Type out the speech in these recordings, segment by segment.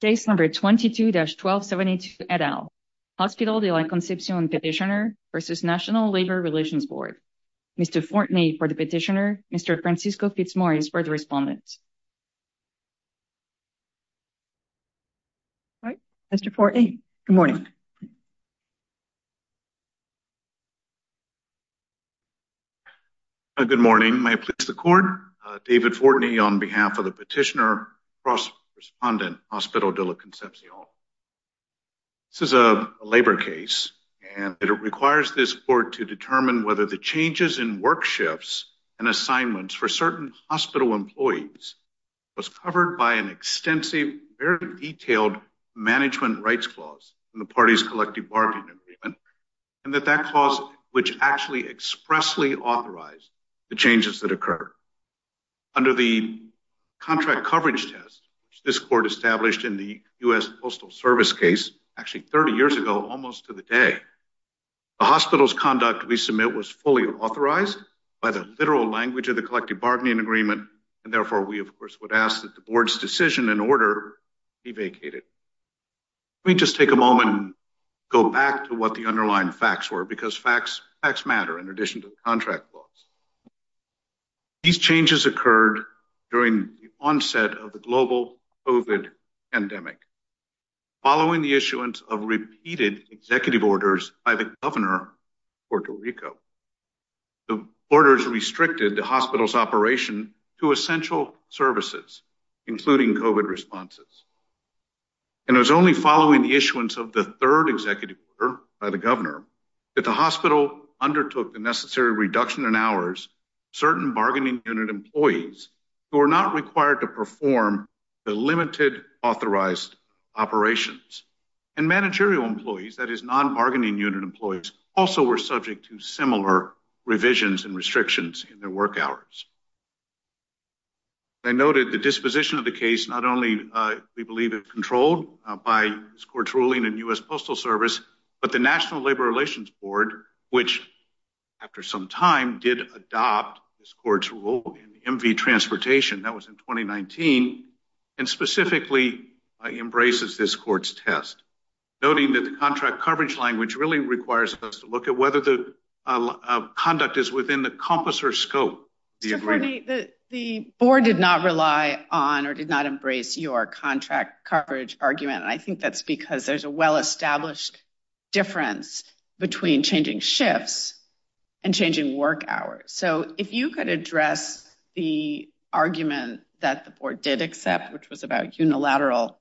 Case number 22-1272 et al. Hospital de la Concepcion petitioner versus National Labour Relations Board. Mr. Fortney for the petitioner, Mr. Francisco Fitzmaurice for the respondent. Mr. Fortney, good morning. Good morning. May I please the court? David Fortney on behalf of the petitioner versus respondent, Hospital de la Concepcion. This is a labour case and it requires this court to determine whether the changes in work shifts and assignments for certain hospital employees was covered by an extensive, very detailed management rights clause in the party's collective bargaining agreement and that that clause which actually expressly authorized the changes that occur under the contract coverage test this court established in the U.S. Postal Service case actually 30 years ago almost to the day. The hospital's conduct we submit was fully authorized by the literal language of the collective bargaining agreement and therefore we of course would ask that the board's decision and order be vacated. Let me just take a moment and go back to what the underlying facts were because facts matter in addition to the contract laws. These changes occurred during the onset of the global COVID pandemic following the issuance of repeated executive orders by the governor of Puerto Rico to essential services including COVID responses and it was only following the issuance of the third executive order by the governor that the hospital undertook the necessary reduction in hours certain bargaining unit employees who are not required to perform the limited authorized operations and managerial employees that is non-bargaining unit employees also were subject to similar revisions and restrictions in their work hours. I noted the disposition of the case not only we believe it controlled by this court's ruling in U.S. Postal Service but the National Labor Relations Board which after some time did adopt this court's rule in MV Transportation that was in 2019 and specifically embraces this court's test noting that the contract coverage language really requires us to look at whether the conduct is within the compass or scope the agreement. The board did not rely on or did not embrace your contract coverage argument and I think that's because there's a well-established difference between changing shifts and changing work hours so if you could address the argument that the board did accept which was about unilateral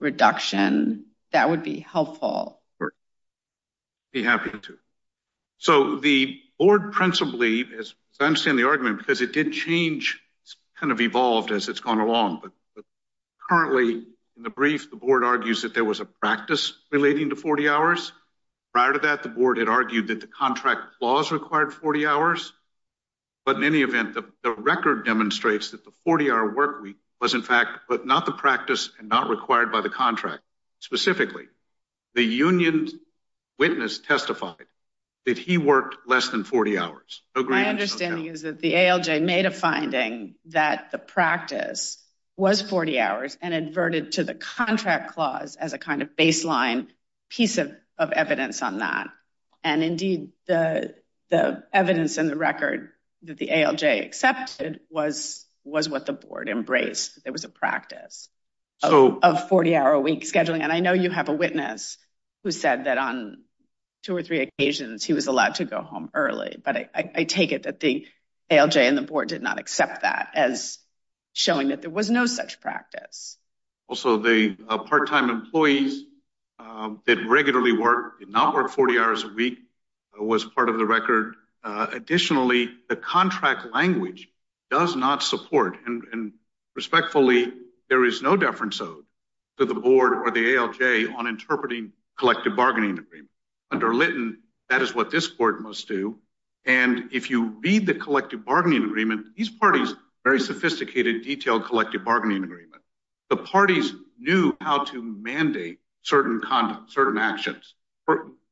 reduction that would be helpful. I'd be happy to. So the board principally as I understand the argument because it did change kind of evolved as it's gone along but currently in the brief the board argues that there was a practice relating to 40 hours prior to that the board had argued that the contract laws required 40 hours but in any event the record demonstrates that the 40-hour work week was in fact but not practice and not required by the contract specifically the union's witness testified that he worked less than 40 hours. My understanding is that the ALJ made a finding that the practice was 40 hours and adverted to the contract clause as a kind of baseline piece of evidence on that and indeed the the evidence in the record that the ALJ accepted was what the board embraced there was a practice of 40-hour a week scheduling and I know you have a witness who said that on two or three occasions he was allowed to go home early but I take it that the ALJ and the board did not accept that as showing that there was no such practice. Also the part-time employees that regularly work did not work 40 hours a week was part of the record. Additionally the contract language does not support and and respectfully there is no deference owed to the board or the ALJ on interpreting collective bargaining agreement under Lytton that is what this court must do and if you read the collective bargaining agreement these parties very sophisticated detailed collective bargaining agreement the parties knew how to mandate certain conduct certain actions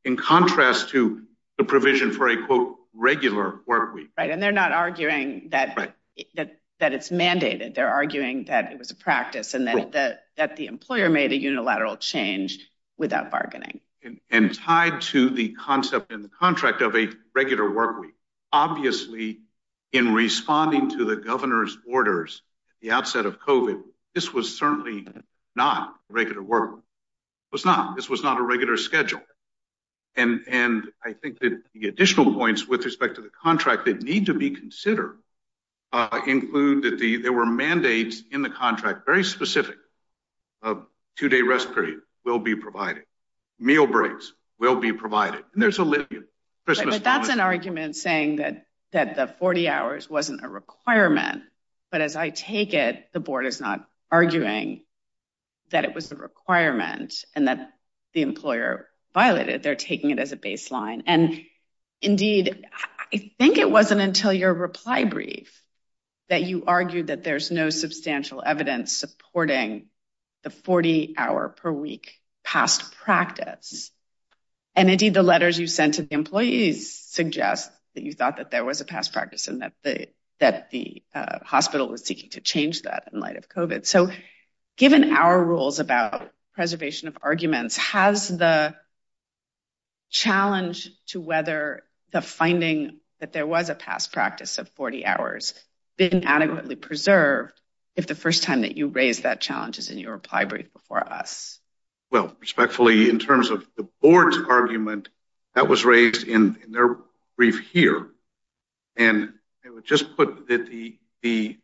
in contrast to the provision for a quote regular work week right and they're not arguing that that that it's mandated they're arguing that it was a practice and then that that the employer made a unilateral change without bargaining and tied to the concept in the contract of a regular work week obviously in responding to the governor's this was certainly not regular work was not this was not a regular schedule and and I think that the additional points with respect to the contract that need to be considered include that the there were mandates in the contract very specific of two-day rest period will be provided meal breaks will be provided there's a little bit but that's an argument saying that that the 40 hours wasn't a requirement but as I take it the board is not arguing that it was the requirement and that the employer violated they're taking it as a baseline and indeed I think it wasn't until your reply brief that you argued that there's no substantial evidence supporting the 40 hour per week past practice and indeed the letters you sent to the employees suggest that you thought that there was a past practice and that the that the seeking to change that in light of covid so given our rules about preservation of arguments has the challenge to whether the finding that there was a past practice of 40 hours been adequately preserved if the first time that you raise that challenge is in your reply brief before us well respectfully in terms of the board's argument that was raised in their brief here and it would just put that the the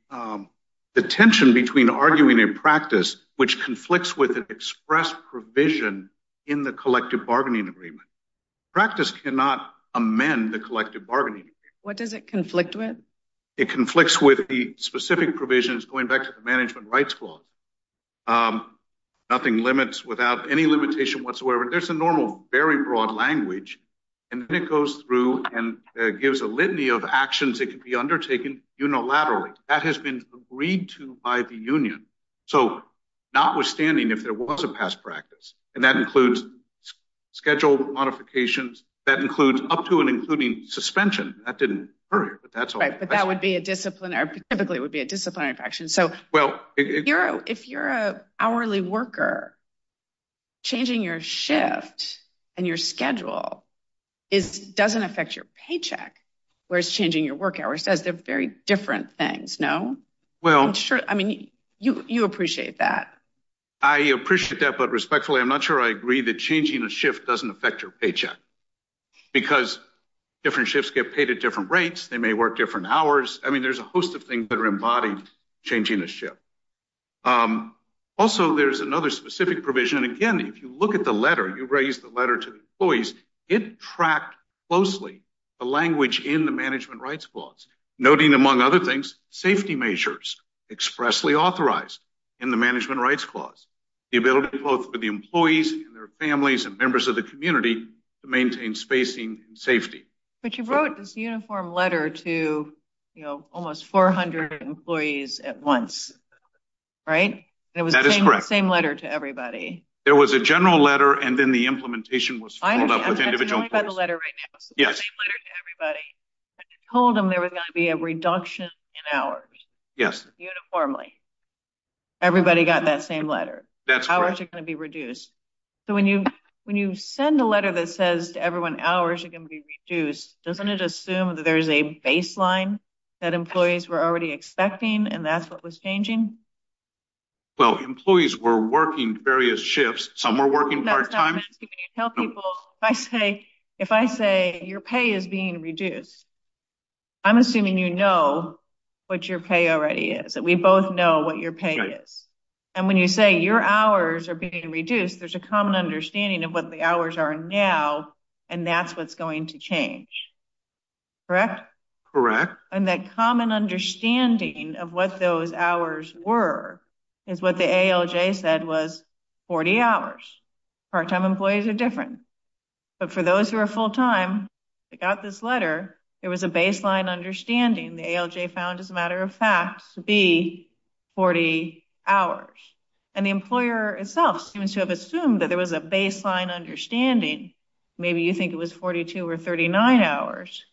the tension between arguing in practice which conflicts with an express provision in the collective bargaining agreement practice cannot amend the collective bargaining what does it conflict with it conflicts with the specific provisions going back to the management rights clause nothing limits without any limitation whatsoever there's a normal very there's a litany of actions that can be undertaken unilaterally that has been agreed to by the union so notwithstanding if there was a past practice and that includes scheduled modifications that includes up to and including suspension that didn't hurry but that's all right but that would be a disciplinary typically it would be a disciplinary action so well if you're if you're a where's changing your work hour says they're very different things no well i'm sure i mean you you appreciate that i appreciate that but respectfully i'm not sure i agree that changing a shift doesn't affect your paycheck because different shifts get paid at different rates they may work different hours i mean there's a host of things that are embodied changing a ship um also there's another specific provision again if you look at the letter you raise the letter to the employees it tracked closely the language in the management rights clause noting among other things safety measures expressly authorized in the management rights clause the ability both for the employees and their families and members of the community to maintain spacing and safety but you wrote this uniform letter to you know almost 400 employees at once right it was the same letter to everybody there was a general letter and then the implementation was told them there was going to be a reduction in hours yes uniformly everybody got that same letter that's how are you going to be reduced so when you when you send a letter that says to everyone hours are going to be reduced doesn't it assume that there's a baseline that employees were already expecting and that's what was changing well employees were working various shifts some were working part-time i say if i say your pay is being reduced i'm assuming you know what your pay already is that we both know what your pay is and when you say your hours are being reduced there's a common understanding of what the hours are now and that's what's going to change correct correct and that common understanding of what those hours were is what the alj said was 40 hours part-time employees are different but for those who are full-time they got this letter there was a baseline understanding the alj found as a matter of fact to be 40 hours and the employer itself seems to have assumed that there was a baseline understanding maybe you think it was 42 or 39 hours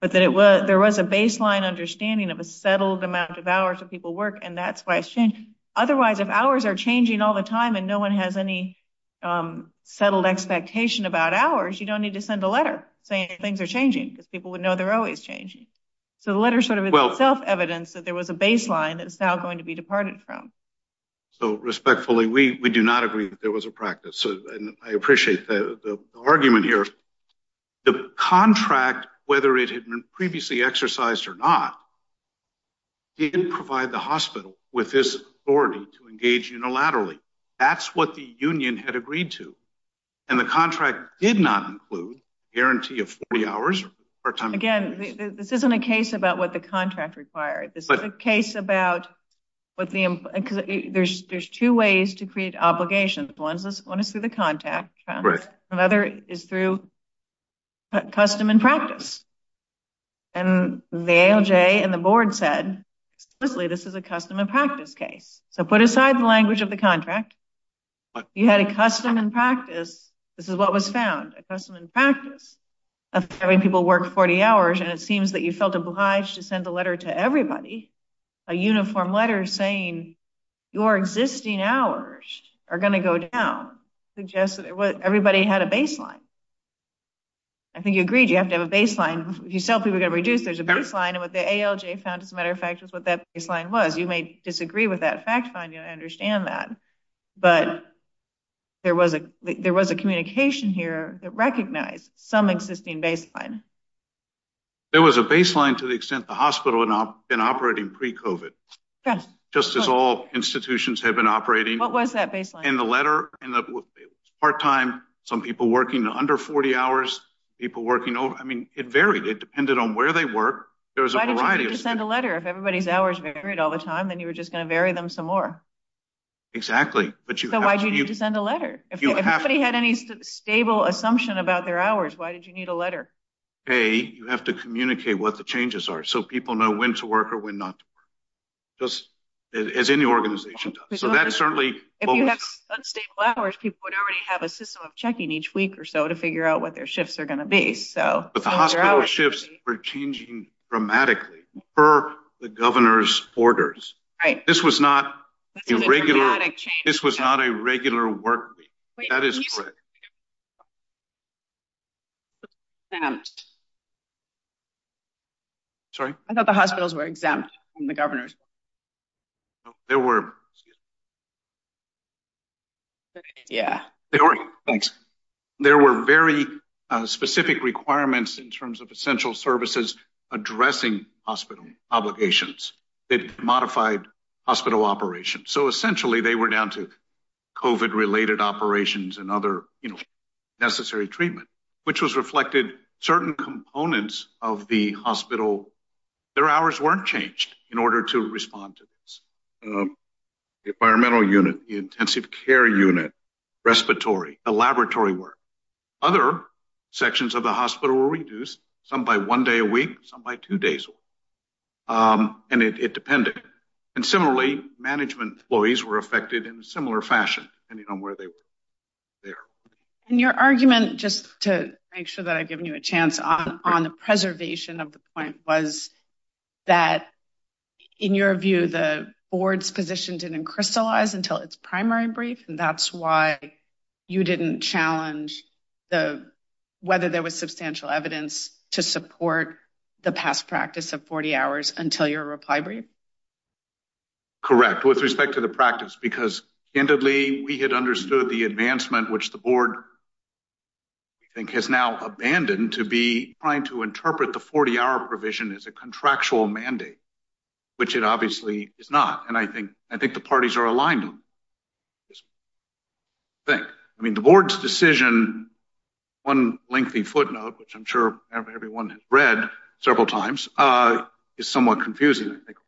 but that it was there was a baseline understanding of a settled amount of hours that people work and that's why it's changed otherwise if hours are changing all the time and no one has any um settled expectation about hours you don't need to send a letter saying things are changing because people would know they're always changing so the letter sort of itself evidence that there was a baseline that's now going to be departed from so respectfully we we do not agree that there was a practice so and i appreciate the argument here the contract whether it had been previously exercised or not didn't provide the hospital with this authority to engage unilaterally that's what the union had agreed to and the contract did not include guarantee of 40 hours again this isn't a case about what the contract required this is a case about what the because there's there's two ways to create obligations one is one is through the contact another is through custom and practice and the alj and the board said honestly this is a custom and practice case so put aside the language of the contract you had a custom and practice this is what was found a custom and practice of having people work 40 hours and it seems that you felt obliged to send a letter to everybody a uniform letter saying your existing hours are going to go down suggest that everybody had a baseline i think you agreed you have to have a baseline if you sell people to reduce there's a baseline and what the alj found as a matter of fact was what that baseline was you may disagree with that fact find you understand that but there was a there was a communication here that recognized some existing baseline there was a baseline to the extent the hospital had not been operating pre-covid just as all institutions have been operating what was that baseline in the letter and the part-time some people working under 40 hours people working over i mean it varied it depended on where they were there was a variety of send a letter if everybody's hours varied all the time then you were just going to vary them some more exactly but you know why do you need to send a letter if everybody had any stable assumption about their hours why did you need a letter hey you have to communicate what the changes are so people know when to work or when not just as any organization does so that's certainly if you have unstable hours people would already have a system of checking each week or so to figure out what their shifts are going to be so but the hospital shifts were changing dramatically per the governor's orders right this was not a regular this was not a regular work week that is correct sorry i thought the hospitals were exempt from the governor's there were yeah thanks there were very specific requirements in terms of essential services addressing hospital obligations that modified hospital operations so essentially they were down to covid related operations and other you know necessary treatment which was reflected certain components of the hospital their hours weren't changed in order to respond to this the environmental unit the intensive care unit respiratory the laboratory work other sections of the hospital were reduced some by one day a week some by two days and it depended and similarly management employees were affected in a similar fashion depending on where they were there and your argument just to make sure that i've given you a chance on on the preservation of the point was that in your view the board's position didn't crystallize until its primary brief and that's why you didn't challenge the whether there was substantial evidence to support the past practice of 40 hours until your reply brief correct with respect to the practice because candidly we had understood the advancement which the board i think has now abandoned to be trying to interpret the 40-hour provision as a contractual mandate which it obviously is not and i think i think the parties are aligned on think i mean the board's decision one lengthy footnote which i'm sure everyone has read several times uh is somewhat confusing i think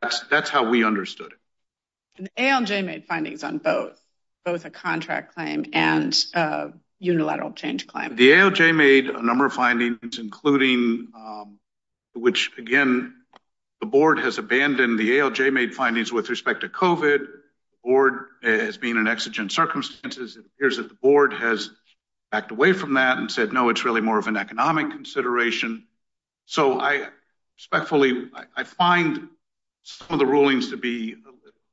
that's that's how we understood it and alj made findings on both both a contract claim and a unilateral change claim the aoj made a number of findings including um which again the board has abandoned the alj made findings with respect to covet board as being an exigent circumstances it appears that the board has backed away from that and said no it's really more of an economic consideration so i respectfully i find some of the rulings to be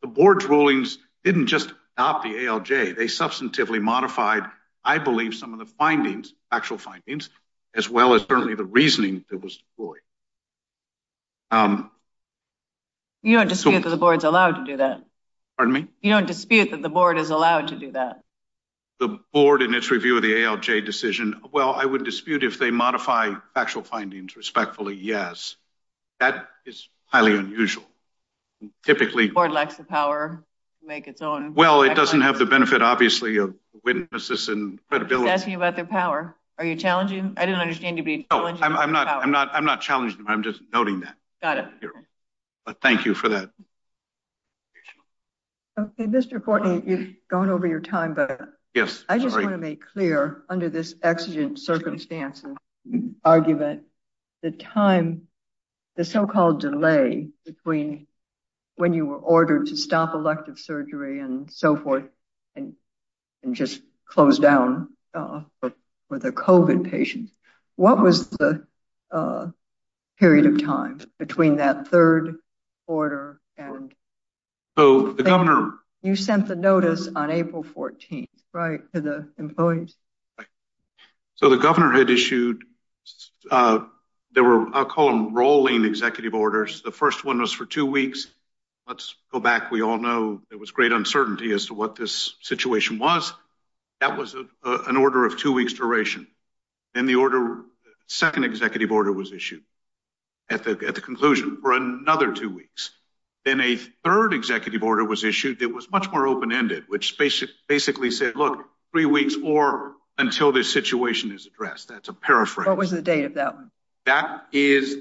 the board's rulings didn't just stop the alj they substantively modified i believe some of the findings actual findings as well as certainly the reasoning that was deployed um you don't dispute that the board's allowed to do that pardon me you don't dispute that the board is allowed to do that the board in its review of the alj decision well i would dispute if they modify factual findings respectfully yes that is highly unusual typically the board lacks the power to make its own well it doesn't have the benefit obviously of witnesses and credibility about their power are you challenging i didn't understand you'd be i'm not i'm not i'm not challenging i'm just noting that got it but thank you for that okay mr courtney you've gone over your time but yes i just want to make clear under this exigent circumstances argument the time the so-called delay between when you were and just closed down uh for the covid patients what was the uh period of time between that third order and so the governor you sent the notice on april 14th right to the employees right so the governor had issued uh there were i'll call them rolling executive orders the first one was for two weeks let's go back we all know there was great uncertainty as to what this situation was that was an order of two weeks duration then the order second executive order was issued at the at the conclusion for another two weeks then a third executive order was issued it was much more open-ended which basically said look three weeks or until this situation is addressed that's a paraphrase what was the date of that one that is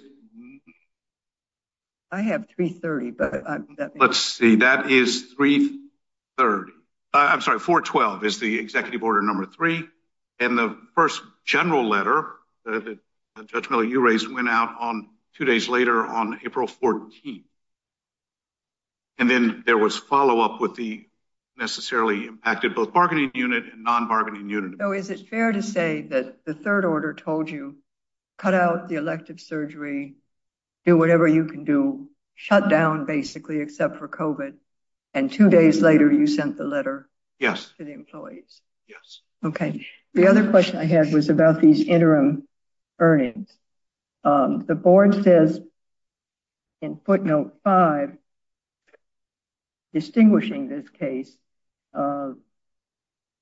i have 330 but let's see that is three third i'm sorry 412 is the executive order number three and the first general letter the judgment you raised went out on two days later on april 14th and then there was follow-up with the necessarily impacted both bargaining unit and non-bargaining unit so is it fair to say that the third order told you cut out the elective surgery do whatever you can do shut down basically except for covid and two days later you sent the letter yes to the employees yes okay the other question i had was about these interim earnings um the board says in footnote five distinguishing this case uh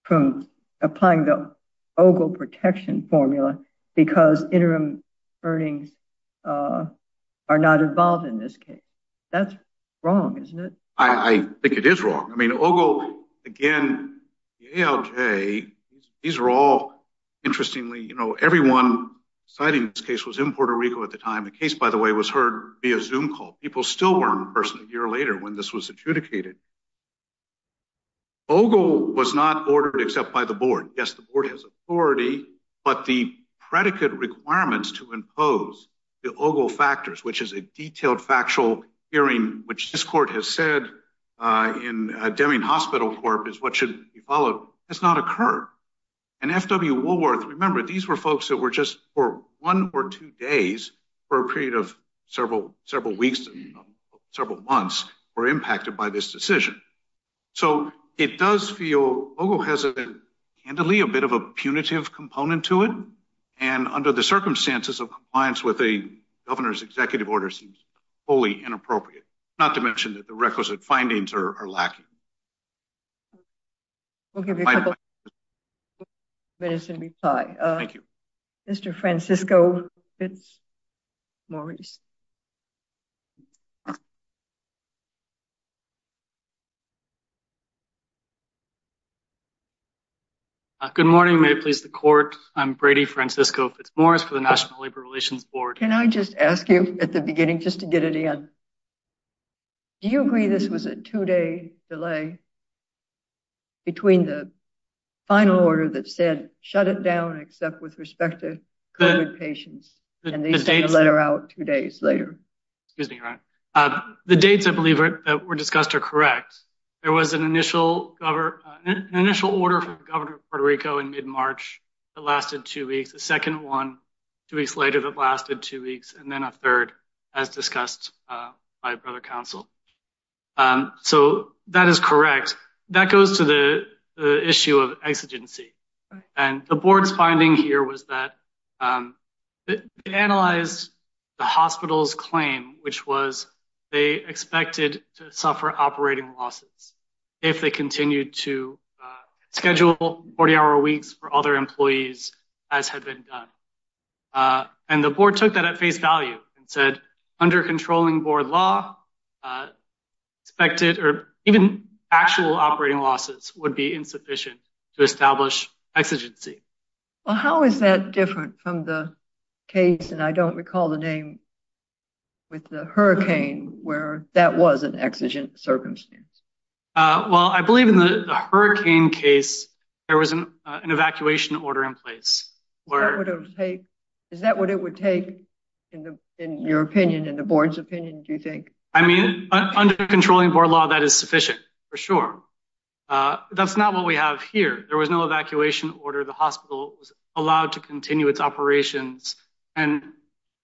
from applying the ogle protection formula because interim earnings uh are not involved in this case that's wrong isn't it i i think it is wrong i mean ogle again the alj these are all interestingly you know everyone citing this case was in puerto rico at the time the case by the way was heard via zoom call people still weren't in person a year later when this was adjudicated ogle was not ordered except by the board yes the board has authority but the predicate requirements to impose the ogle factors which is a detailed factual hearing which this court has said uh in a deming hospital corp is what should be followed has not occurred and fw woolworth remember these were folks that were just for one or two days for a period of several several weeks several months were impacted by this so it does feel ogle has a candidly a bit of a punitive component to it and under the circumstances of compliance with a governor's executive order seems wholly inappropriate not to mention that the requisite findings are lacking we'll give you a couple minutes and reply uh thank you mr francisco it's morris uh good morning may it please the court i'm brady francisco fitzmorris for the national labor relations board can i just ask you at the beginning just to get it in do you agree this was a two-day delay between the final order that said shut it down except with respect to covid patients and they sent a letter out two days later excuse me right uh the dates i believe that were discussed are correct there was an initial government an initial order from the governor of puerto rico in mid-march that lasted two weeks the second one two weeks later that lasted two weeks and then a third as discussed uh by brother council um so that is correct that goes to the the issue of exigency and the board's finding here was that um they analyzed the hospital's claim which was they expected to suffer operating losses if they continued to schedule 40-hour weeks for other employees as had been done uh and the board took that at face value and said under controlling board law uh expected or even actual operating losses would be insufficient to establish exigency well how is that different from the case and i don't recall the name with the hurricane where that was an exigent circumstance uh well i believe in the hurricane case there was an evacuation order in place where it would take is that what it would take in the in your opinion in the board's opinion do you think i uh that's not what we have here there was no evacuation order the hospital was allowed to continue its operations and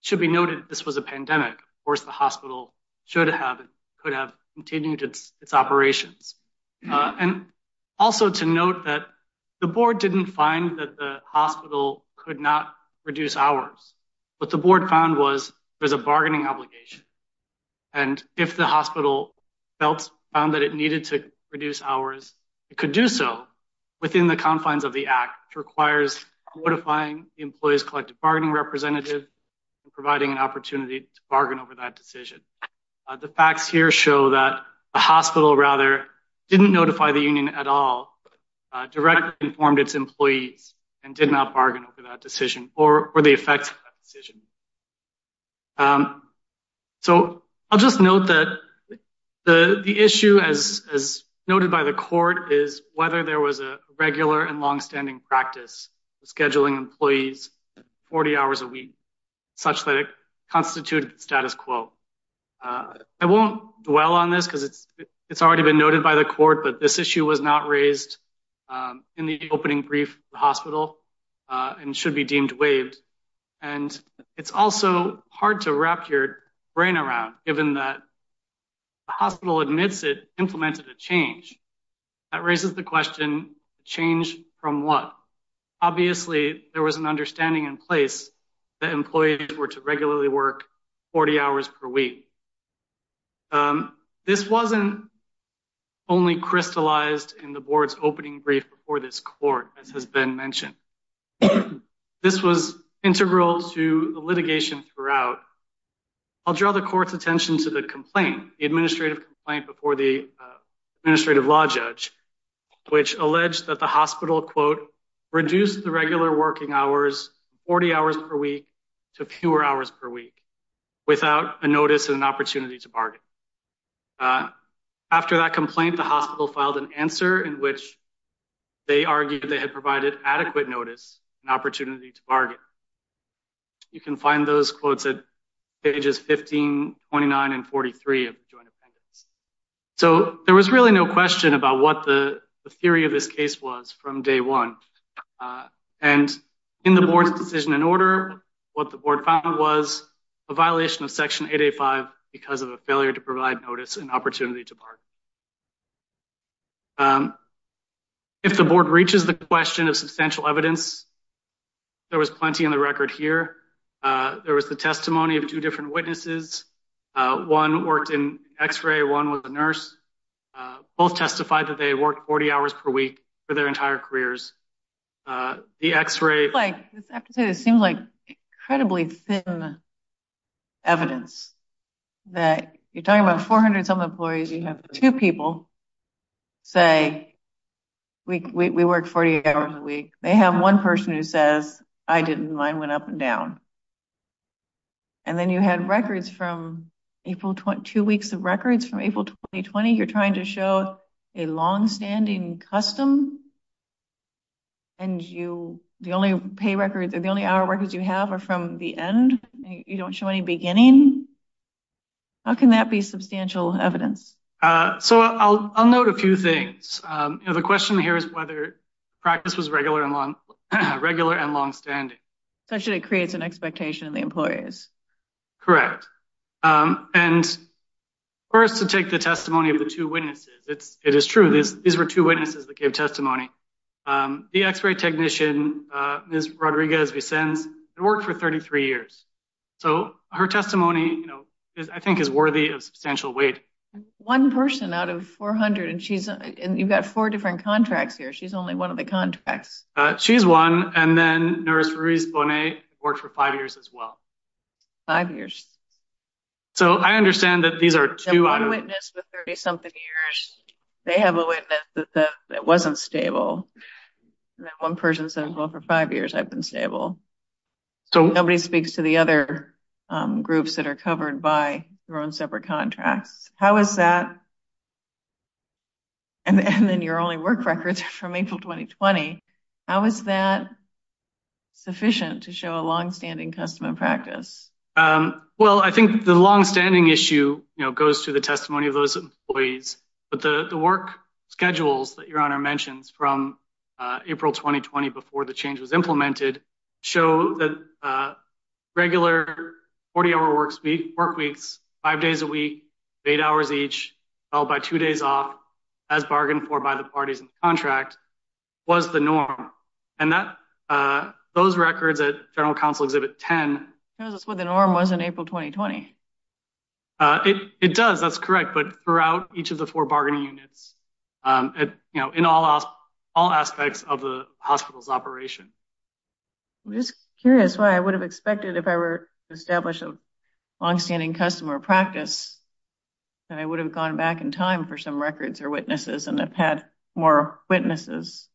should be noted this was a pandemic of course the hospital should have it could have continued its operations and also to note that the board didn't find that the hospital could not reduce hours what the board found was there's a bargaining obligation and if the hospital felt found that it needed to reduce hours it could do so within the confines of the act which requires modifying the employee's collective bargaining representative and providing an opportunity to bargain over that decision the facts here show that the hospital rather didn't notify the union at all directly informed its employees and did not bargain over that so i'll just note that the the issue as as noted by the court is whether there was a regular and long-standing practice scheduling employees 40 hours a week such that it constituted status quo uh i won't dwell on this because it's it's already been noted by the court but this issue was not raised um in the opening brief the hospital uh and should be deemed waived and it's also hard to wrap your brain around given that the hospital admits it implemented a change that raises the question change from what obviously there was an understanding in place that employees were to regularly work 40 hours per week um this wasn't only crystallized in the board's opening brief before this court as has been mentioned this was integral to the litigation throughout i'll draw the court's attention to the complaint the administrative complaint before the administrative law judge which alleged that the hospital quote reduced the regular working hours 40 hours per week to fewer hours per week without a notice and an opportunity to bargain after that complaint the hospital filed an answer in which they argued they had provided adequate notice and opportunity to bargain you can find those quotes at pages 15 29 and 43 of the joint appendix so there was really no question about what the theory of this case was from day one and in the board's decision in order what the board found was a violation of section 885 because of a failure to provide notice and opportunity to if the board reaches the question of substantial evidence there was plenty in the record here uh there was the testimony of two different witnesses uh one worked in x-ray one was a nurse both testified that they worked 40 hours per week for their entire careers uh the x-ray like this episode it seems like incredibly thin evidence that you're talking about 400 some employees you have two people say we we work 48 hours a week they have one person who says i didn't mine went up and down and then you had records from april 22 weeks of records from april 2020 you're trying to show a long-standing custom and you the only pay records are the only hour records you have are from the end you don't show any beginning how can that be substantial evidence uh so i'll i'll note a few things um you know the question here is whether practice was regular and long regular and long-standing so should it creates an expectation of the employers correct um and first to take the testimony of the two witnesses it's it is true this these were two witnesses that gave testimony um the x-ray technician uh rodriguez vincennes worked for 33 years so her testimony you know is i think is worthy of substantial weight one person out of 400 and she's and you've got four different contracts here she's only one of the contracts uh she's one and then nurse ruiz bonet worked for five years as well five years so i understand that these are two out of witness for 30 something years they have a witness that that wasn't stable that one person said well for five years i've been stable so nobody speaks to the other um groups that are covered by their own separate contracts how is that and then your only work records from april 2020 how is that sufficient to show a long-standing custom and practice um well i think the long-standing issue you know goes to the the work schedules that your honor mentions from uh april 2020 before the change was implemented show that uh regular 40-hour work speak work weeks five days a week eight hours each held by two days off as bargained for by the parties in the contract was the norm and that uh those records at general council exhibit 10 shows us what the norm was in april 2020 uh it it does that's correct but throughout each of the four bargaining units um you know in all all aspects of the hospital's operation i'm just curious why i would have expected if i were established a long-standing customer practice that i would have gone back in time for some records or witnesses and i've had more witnesses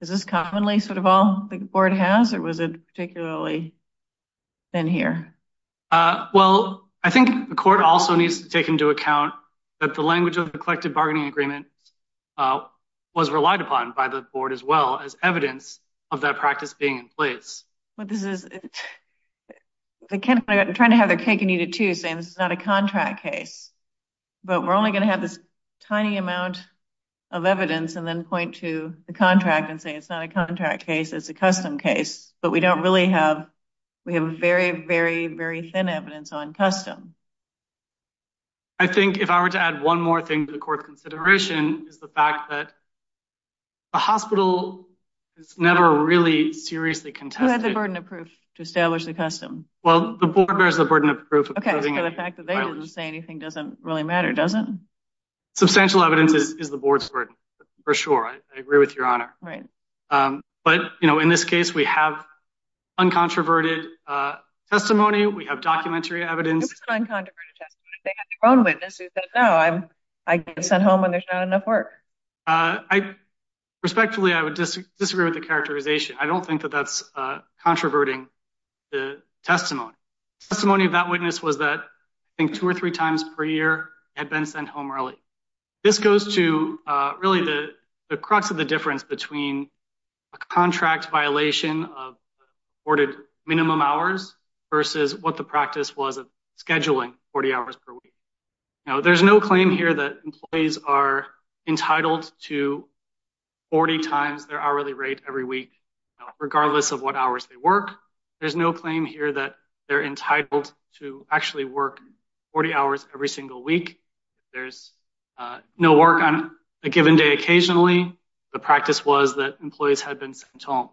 is this commonly sort of all the board has or was it particularly been here uh well i think the court also needs to take into account that the language of the collective bargaining agreement uh was relied upon by the board as well as evidence of that practice being in place but this is the kind of trying to have their cake and eat it too saying this is not a contract case but we're only going to have this tiny amount of evidence and then point to the contract and say it's not a contract case it's a custom case but we don't really have we have very very very thin evidence on custom i think if i were to add one more thing to the court consideration is the fact that the hospital is never really seriously contested the burden of proof to establish the custom well the board bears the burden of proof okay so the fact that they didn't say anything doesn't really matter doesn't substantial evidence is the board's burden for sure i agree with your honor right um but you know in this case we have uncontroverted uh testimony we have documentary evidence it was an uncontroverted testimony they had their own witness who said no i'm i get sent home when there's not enough work uh i respectfully i would disagree with the characterization i don't think that that's uh controverting the testimony testimony of that witness was that i think two or three times per year had been sent home early this goes to uh really the the crux of the between a contract violation of ordered minimum hours versus what the practice was of scheduling 40 hours per week now there's no claim here that employees are entitled to 40 times their hourly rate every week regardless of what hours they work there's no claim here that they're entitled to actually work 40 hours every single week there's uh no work on a given day occasionally the practice was that employees had been sent home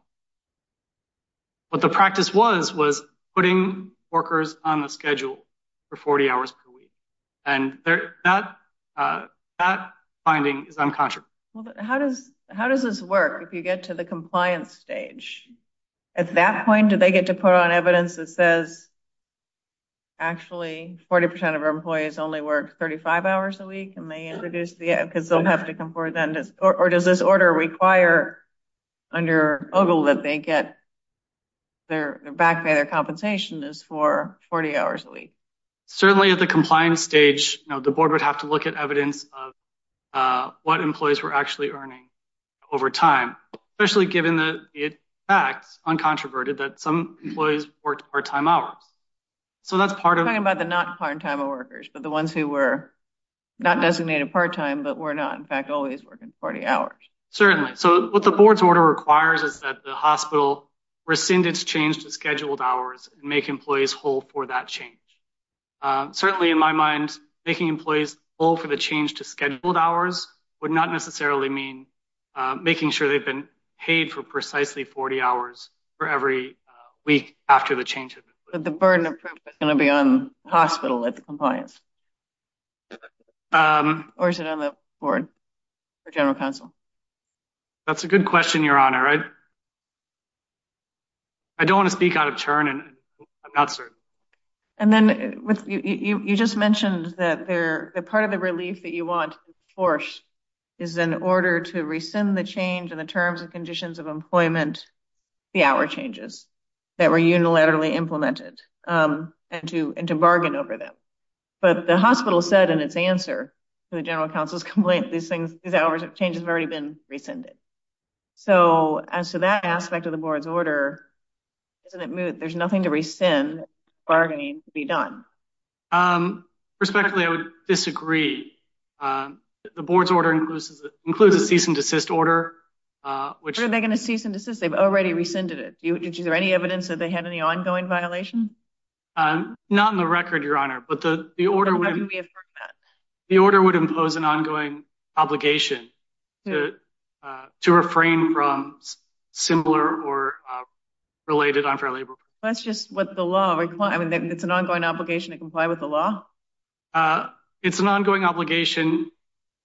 what the practice was was putting workers on the schedule for 40 hours per week and they're not uh that finding is uncontroverted how does how does this work if you get to the compliance stage at that point do they get to put on evidence that says actually 40 percent of our employees only work 35 hours a week and they introduce because they'll have to come forward then or does this order require under ogle that they get their back pay their compensation is for 40 hours a week certainly at the compliance stage you know the board would have to look at evidence of uh what employees were actually earning over time especially given that it acts uncontroverted that some employees worked part-time hours so that's part of talking about the not part-time workers but the ones who were not designated part-time but were not in fact always working 40 hours certainly so what the board's order requires is that the hospital rescind its change to scheduled hours and make employees hold for that change certainly in my mind making employees all for the change to scheduled hours would not necessarily mean making sure they've been paid for precisely 40 hours for every week after the change but the burden of proof is going to be on the hospital at the compliance um or is it on the board or general counsel that's a good question your honor right i don't want to speak out of turn and i'm not certain and then with you you just mentioned that they're the part of the relief that you want to enforce is in order to rescind the change in the terms and conditions of employment the hour changes that were unilaterally implemented um and to and to bargain over them but the hospital said in its answer to the general council's complaint these things these hours of changes have already been rescinded so as to that aspect of the board's order isn't it there's nothing to rescind bargaining to be done um respectfully i would disagree um the board's order includes includes a cease and desist order uh which are they going to cease and desist they've already rescinded it did you there any evidence that had any ongoing violation um not in the record your honor but the the order would be the order would impose an ongoing obligation to uh to refrain from similar or uh related unfair labor that's just what the law requires i mean it's an ongoing obligation to comply with the law uh it's an ongoing obligation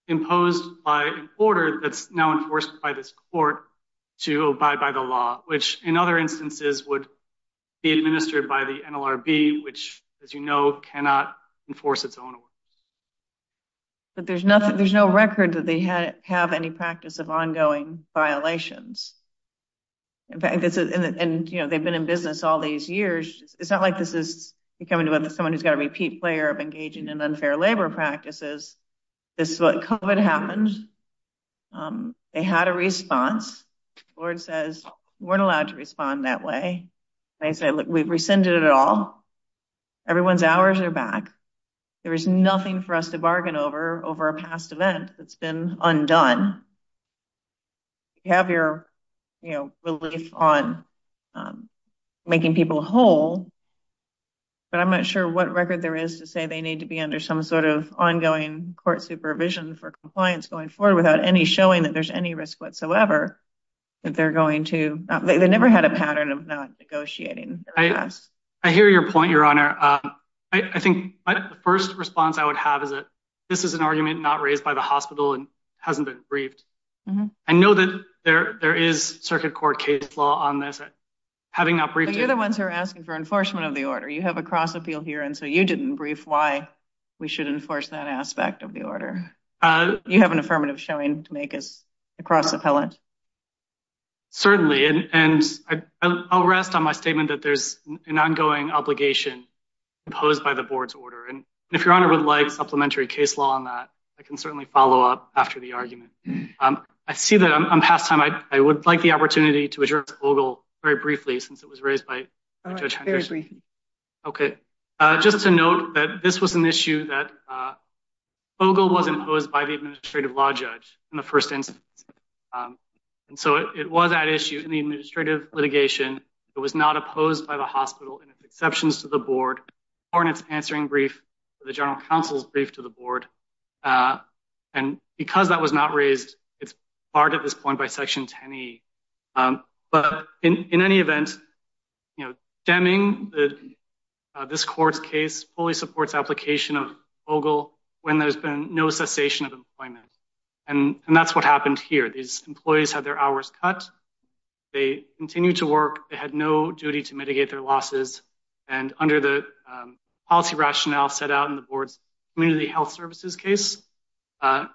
imposed by an order that's now enforced by this court to abide by the law which in other instances would be administered by the nlrb which as you know cannot enforce its own order but there's nothing there's no record that they had have any practice of ongoing violations in fact this is and you know they've been in business all these years it's not like this is becoming about someone who's got a repeat player of engaging in unfair labor practices this is what covered happened um they had a response lord says we're allowed to respond that way they say look we've rescinded it all everyone's hours are back there is nothing for us to bargain over over a past event that's been undone you have your you know relief on making people whole but i'm not sure what record there is to say they need to be under some sort of ongoing court supervision for compliance going forward without any showing that there's any risk whatsoever that they're going to they never had a pattern of not negotiating i i hear your point your honor uh i think the first response i would have is that this is an argument not raised by the hospital and hasn't been briefed i know that there there is circuit court case law on this having not briefed you're the ones who are asking for enforcement of the order you have a cross appeal here and so you didn't brief why we should enforce that aspect of the order uh you have an affirmative showing to make us across appellate certainly and and i i'll rest on my statement that there's an ongoing obligation imposed by the board's order and if your honor would like supplementary case law on that i can certainly follow up after the argument um i see that i'm past time i i would like the opportunity to address ogle very briefly since it was raised by very briefly okay uh just to note that this was an issue that uh fogel was imposed by the administrative law judge in the first instance um and so it was that issue in the administrative litigation it was not opposed by the hospital and its exceptions to the board or in its answering brief for the general counsel's brief to the board uh and because that was not raised it's barred at this point by section 10e um but in in any event you know deming the this court's case fully supports application of ogle when there's been no cessation of employment and and that's what happened here these employees had their hours cut they continued to work they had no duty to mitigate their losses and under the policy rationale set out in the board's community health services case uh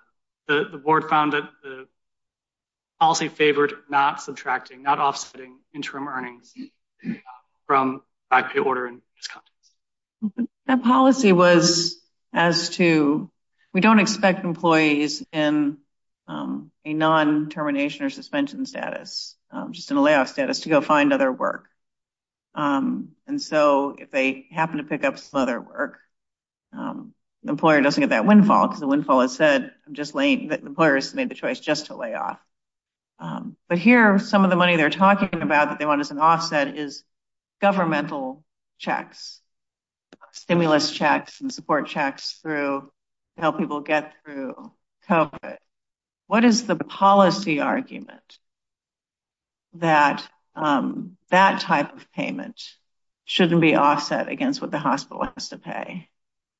the the board found that the policy favored not subtracting not offsetting interim earnings from back pay order and discontents that policy was as to we don't expect employees in um a non-termination or suspension status um just in a layoff status to go find other work um and so if they happen to pick up some other work um the employer doesn't get that windfall because the windfall has said i'm just laying the employers made the choice just to lay off um but here some of the money they're talking about that they want as an offset is governmental checks stimulus checks and support checks through to help people get through it what is the policy argument that um that type of payment shouldn't be offset against what the hospital has to pay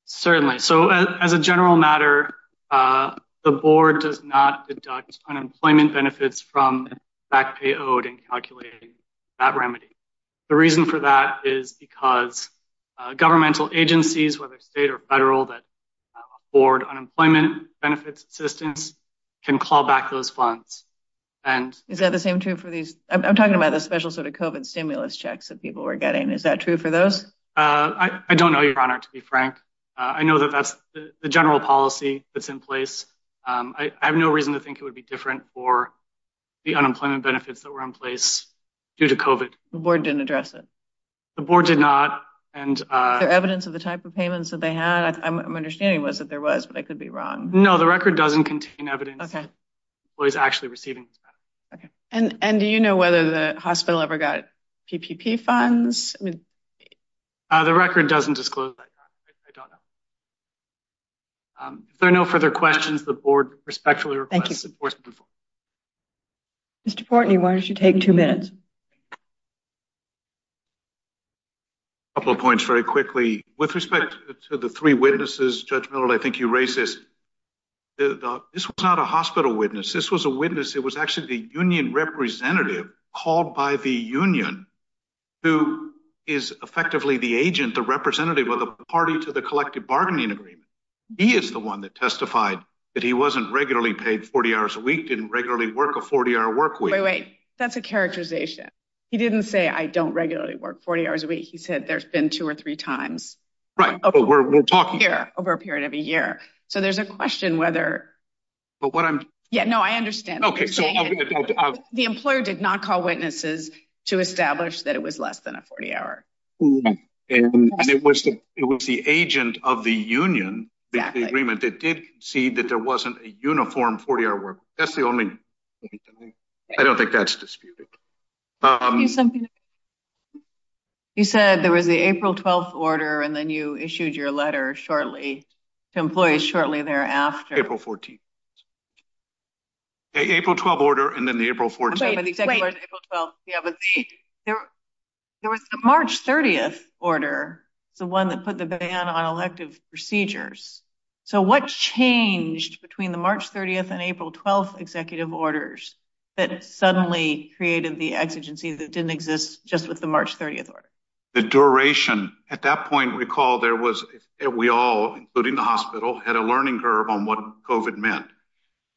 certainly so as a general matter uh the board does not deduct unemployment benefits from back pay owed and calculating that remedy the reason for that is because uh governmental agencies whether state or federal that afford unemployment benefits assistance can call back those funds and is that the same true for these i'm talking about the special sort of covid stimulus checks that people were getting is that true for those uh i i don't know your honor to be frank i know that that's the general policy that's in place um i have no reason to think it would be different for the unemployment their evidence of the type of payments that they had i'm understanding was that there was but i could be wrong no the record doesn't contain evidence okay well he's actually receiving okay and and do you know whether the hospital ever got ppp funds i mean uh the record doesn't disclose that i don't know um if there are no further questions the board respectfully request mr portney why don't you take two minutes a couple of points very quickly with respect to the three witnesses judge miller i think you racist this was not a hospital witness this was a witness it was actually the union representative called by the union who is effectively the agent the representative of the party to the collective bargaining agreement he is the one that testified that he wasn't regularly paid 40 hours a week didn't regularly work a 40-hour work wait wait that's a characterization he didn't say i don't regularly work 40 hours a week he said there's been two or three times right we're talking here over a period of a year so there's a question whether but what i'm yeah no i understand okay so the employer did not call witnesses to establish that it was less than a 40 hour and it was it was the agent of the union the agreement that did see that there wasn't a uniform 40-hour work that's the only thing i don't think that's disputed um you said there was the april 12th order and then you issued your letter shortly to employees shortly thereafter april 14th april 12 order and then the april 14th there was the march 30th order it's the one that put the ban on elective procedures so what changed between the march 30th and april 12th executive orders that suddenly created the exigency that didn't exist just with the march 30th order the duration at that point recall there was we all including the hospital had a learning curve on what covet meant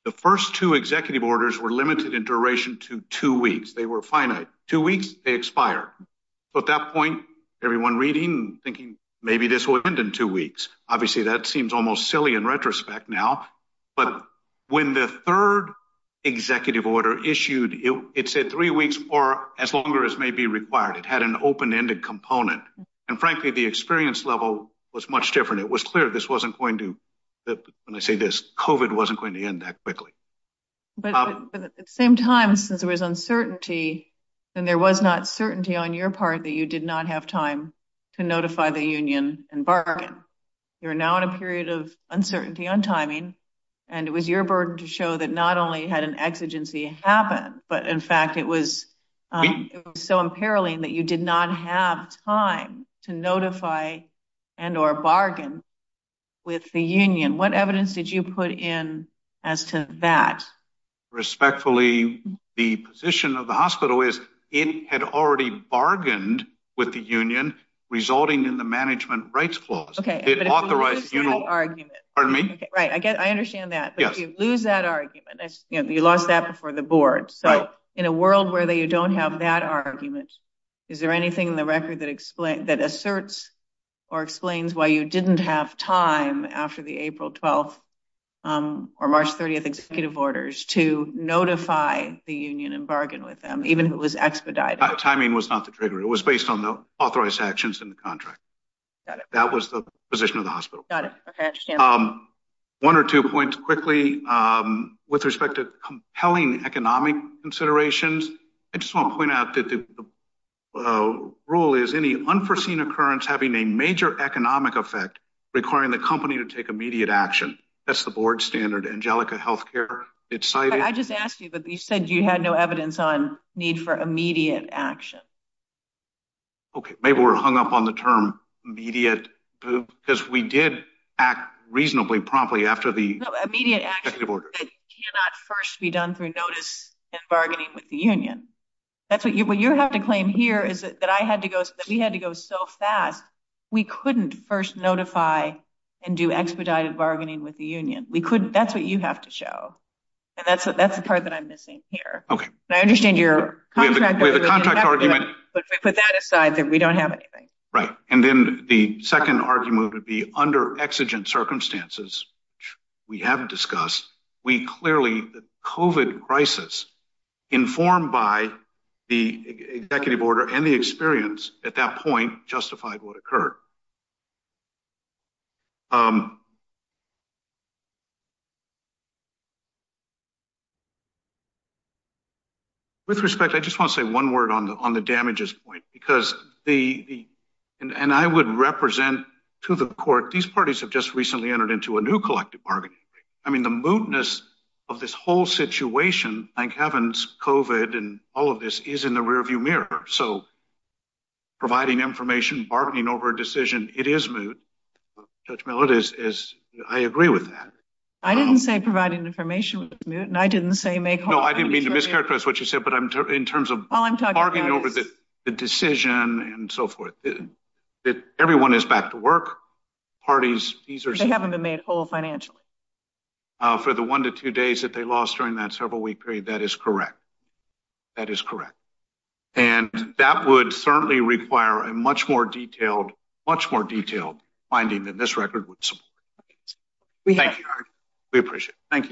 the first two executive orders were limited in duration to two weeks they were finite two weeks they expire so at that point everyone reading thinking maybe this will end in two weeks obviously that seems almost silly in retrospect now but when the third executive order issued it said three weeks or as long as may be required it had an open-ended component and frankly the experience level was much different it was clear this wasn't going to when i say this covet wasn't going to end that quickly but at the same time since there was uncertainty and there was not certainty on your part that you did not have time to notify the union and bargain you're now in a period of uncertainty on timing and it was your burden to show that not only had an exigency happen but in fact it was it was so imperiling that you did not have time to notify and or bargain with the union what evidence did you put in as to that respectfully the position of the hospital is it had already bargained with the union resulting in the management rights clause okay it authorized pardon me right i get i understand that yes you lose that argument you lost that before the board so in a world where they you don't have that argument is there anything in the record that explain that asserts or explains why you didn't have time after the april 12th um or march 30th executive orders to notify the union and bargain with them even who was expedited timing was not the trigger it was based on the authorized actions in the contract that was the position of the hospital got it um one or two points quickly um with respect to compelling economic considerations i just want to point out that the rule is any unforeseen occurrence having a major economic effect requiring the company to take immediate action that's the board standard angelica healthcare it's i i just asked you but you said you had no evidence on need for immediate action okay maybe we're hung up on the term immediate because we did act reasonably promptly after the immediate action order that cannot first be done through notice and bargaining with the union that's what you what you have to claim here is that i had to go so that we had to go so fast we couldn't first notify and do expedited bargaining with the union we couldn't that's what you have to show and that's that's the part that i'm missing here okay i understand your contract we have a contract argument but we put that aside that we don't have anything right and then the second argument would be under exigent circumstances we haven't discussed we clearly the covid crisis informed by the executive order and the experience at that point justified what occurred um with respect i just want to say one word on the on the damages point because the and i would represent to the court these parties have just recently entered into a new collective bargaining i mean the mootness of this whole situation thank heavens covid and all of this is in the rearview mirror so providing information bargaining over a decision it is moot judge millet is is i agree with that i didn't say providing information was moot and i didn't say make no i didn't mean to what you said but i'm in terms of all i'm talking over the decision and so forth that everyone is back to work parties these are they haven't been made whole financially uh for the one to two days that they lost during that several week period that is correct that is correct and that would certainly require a much more detailed much more detailed finding than this record would support we thank you we appreciate thank you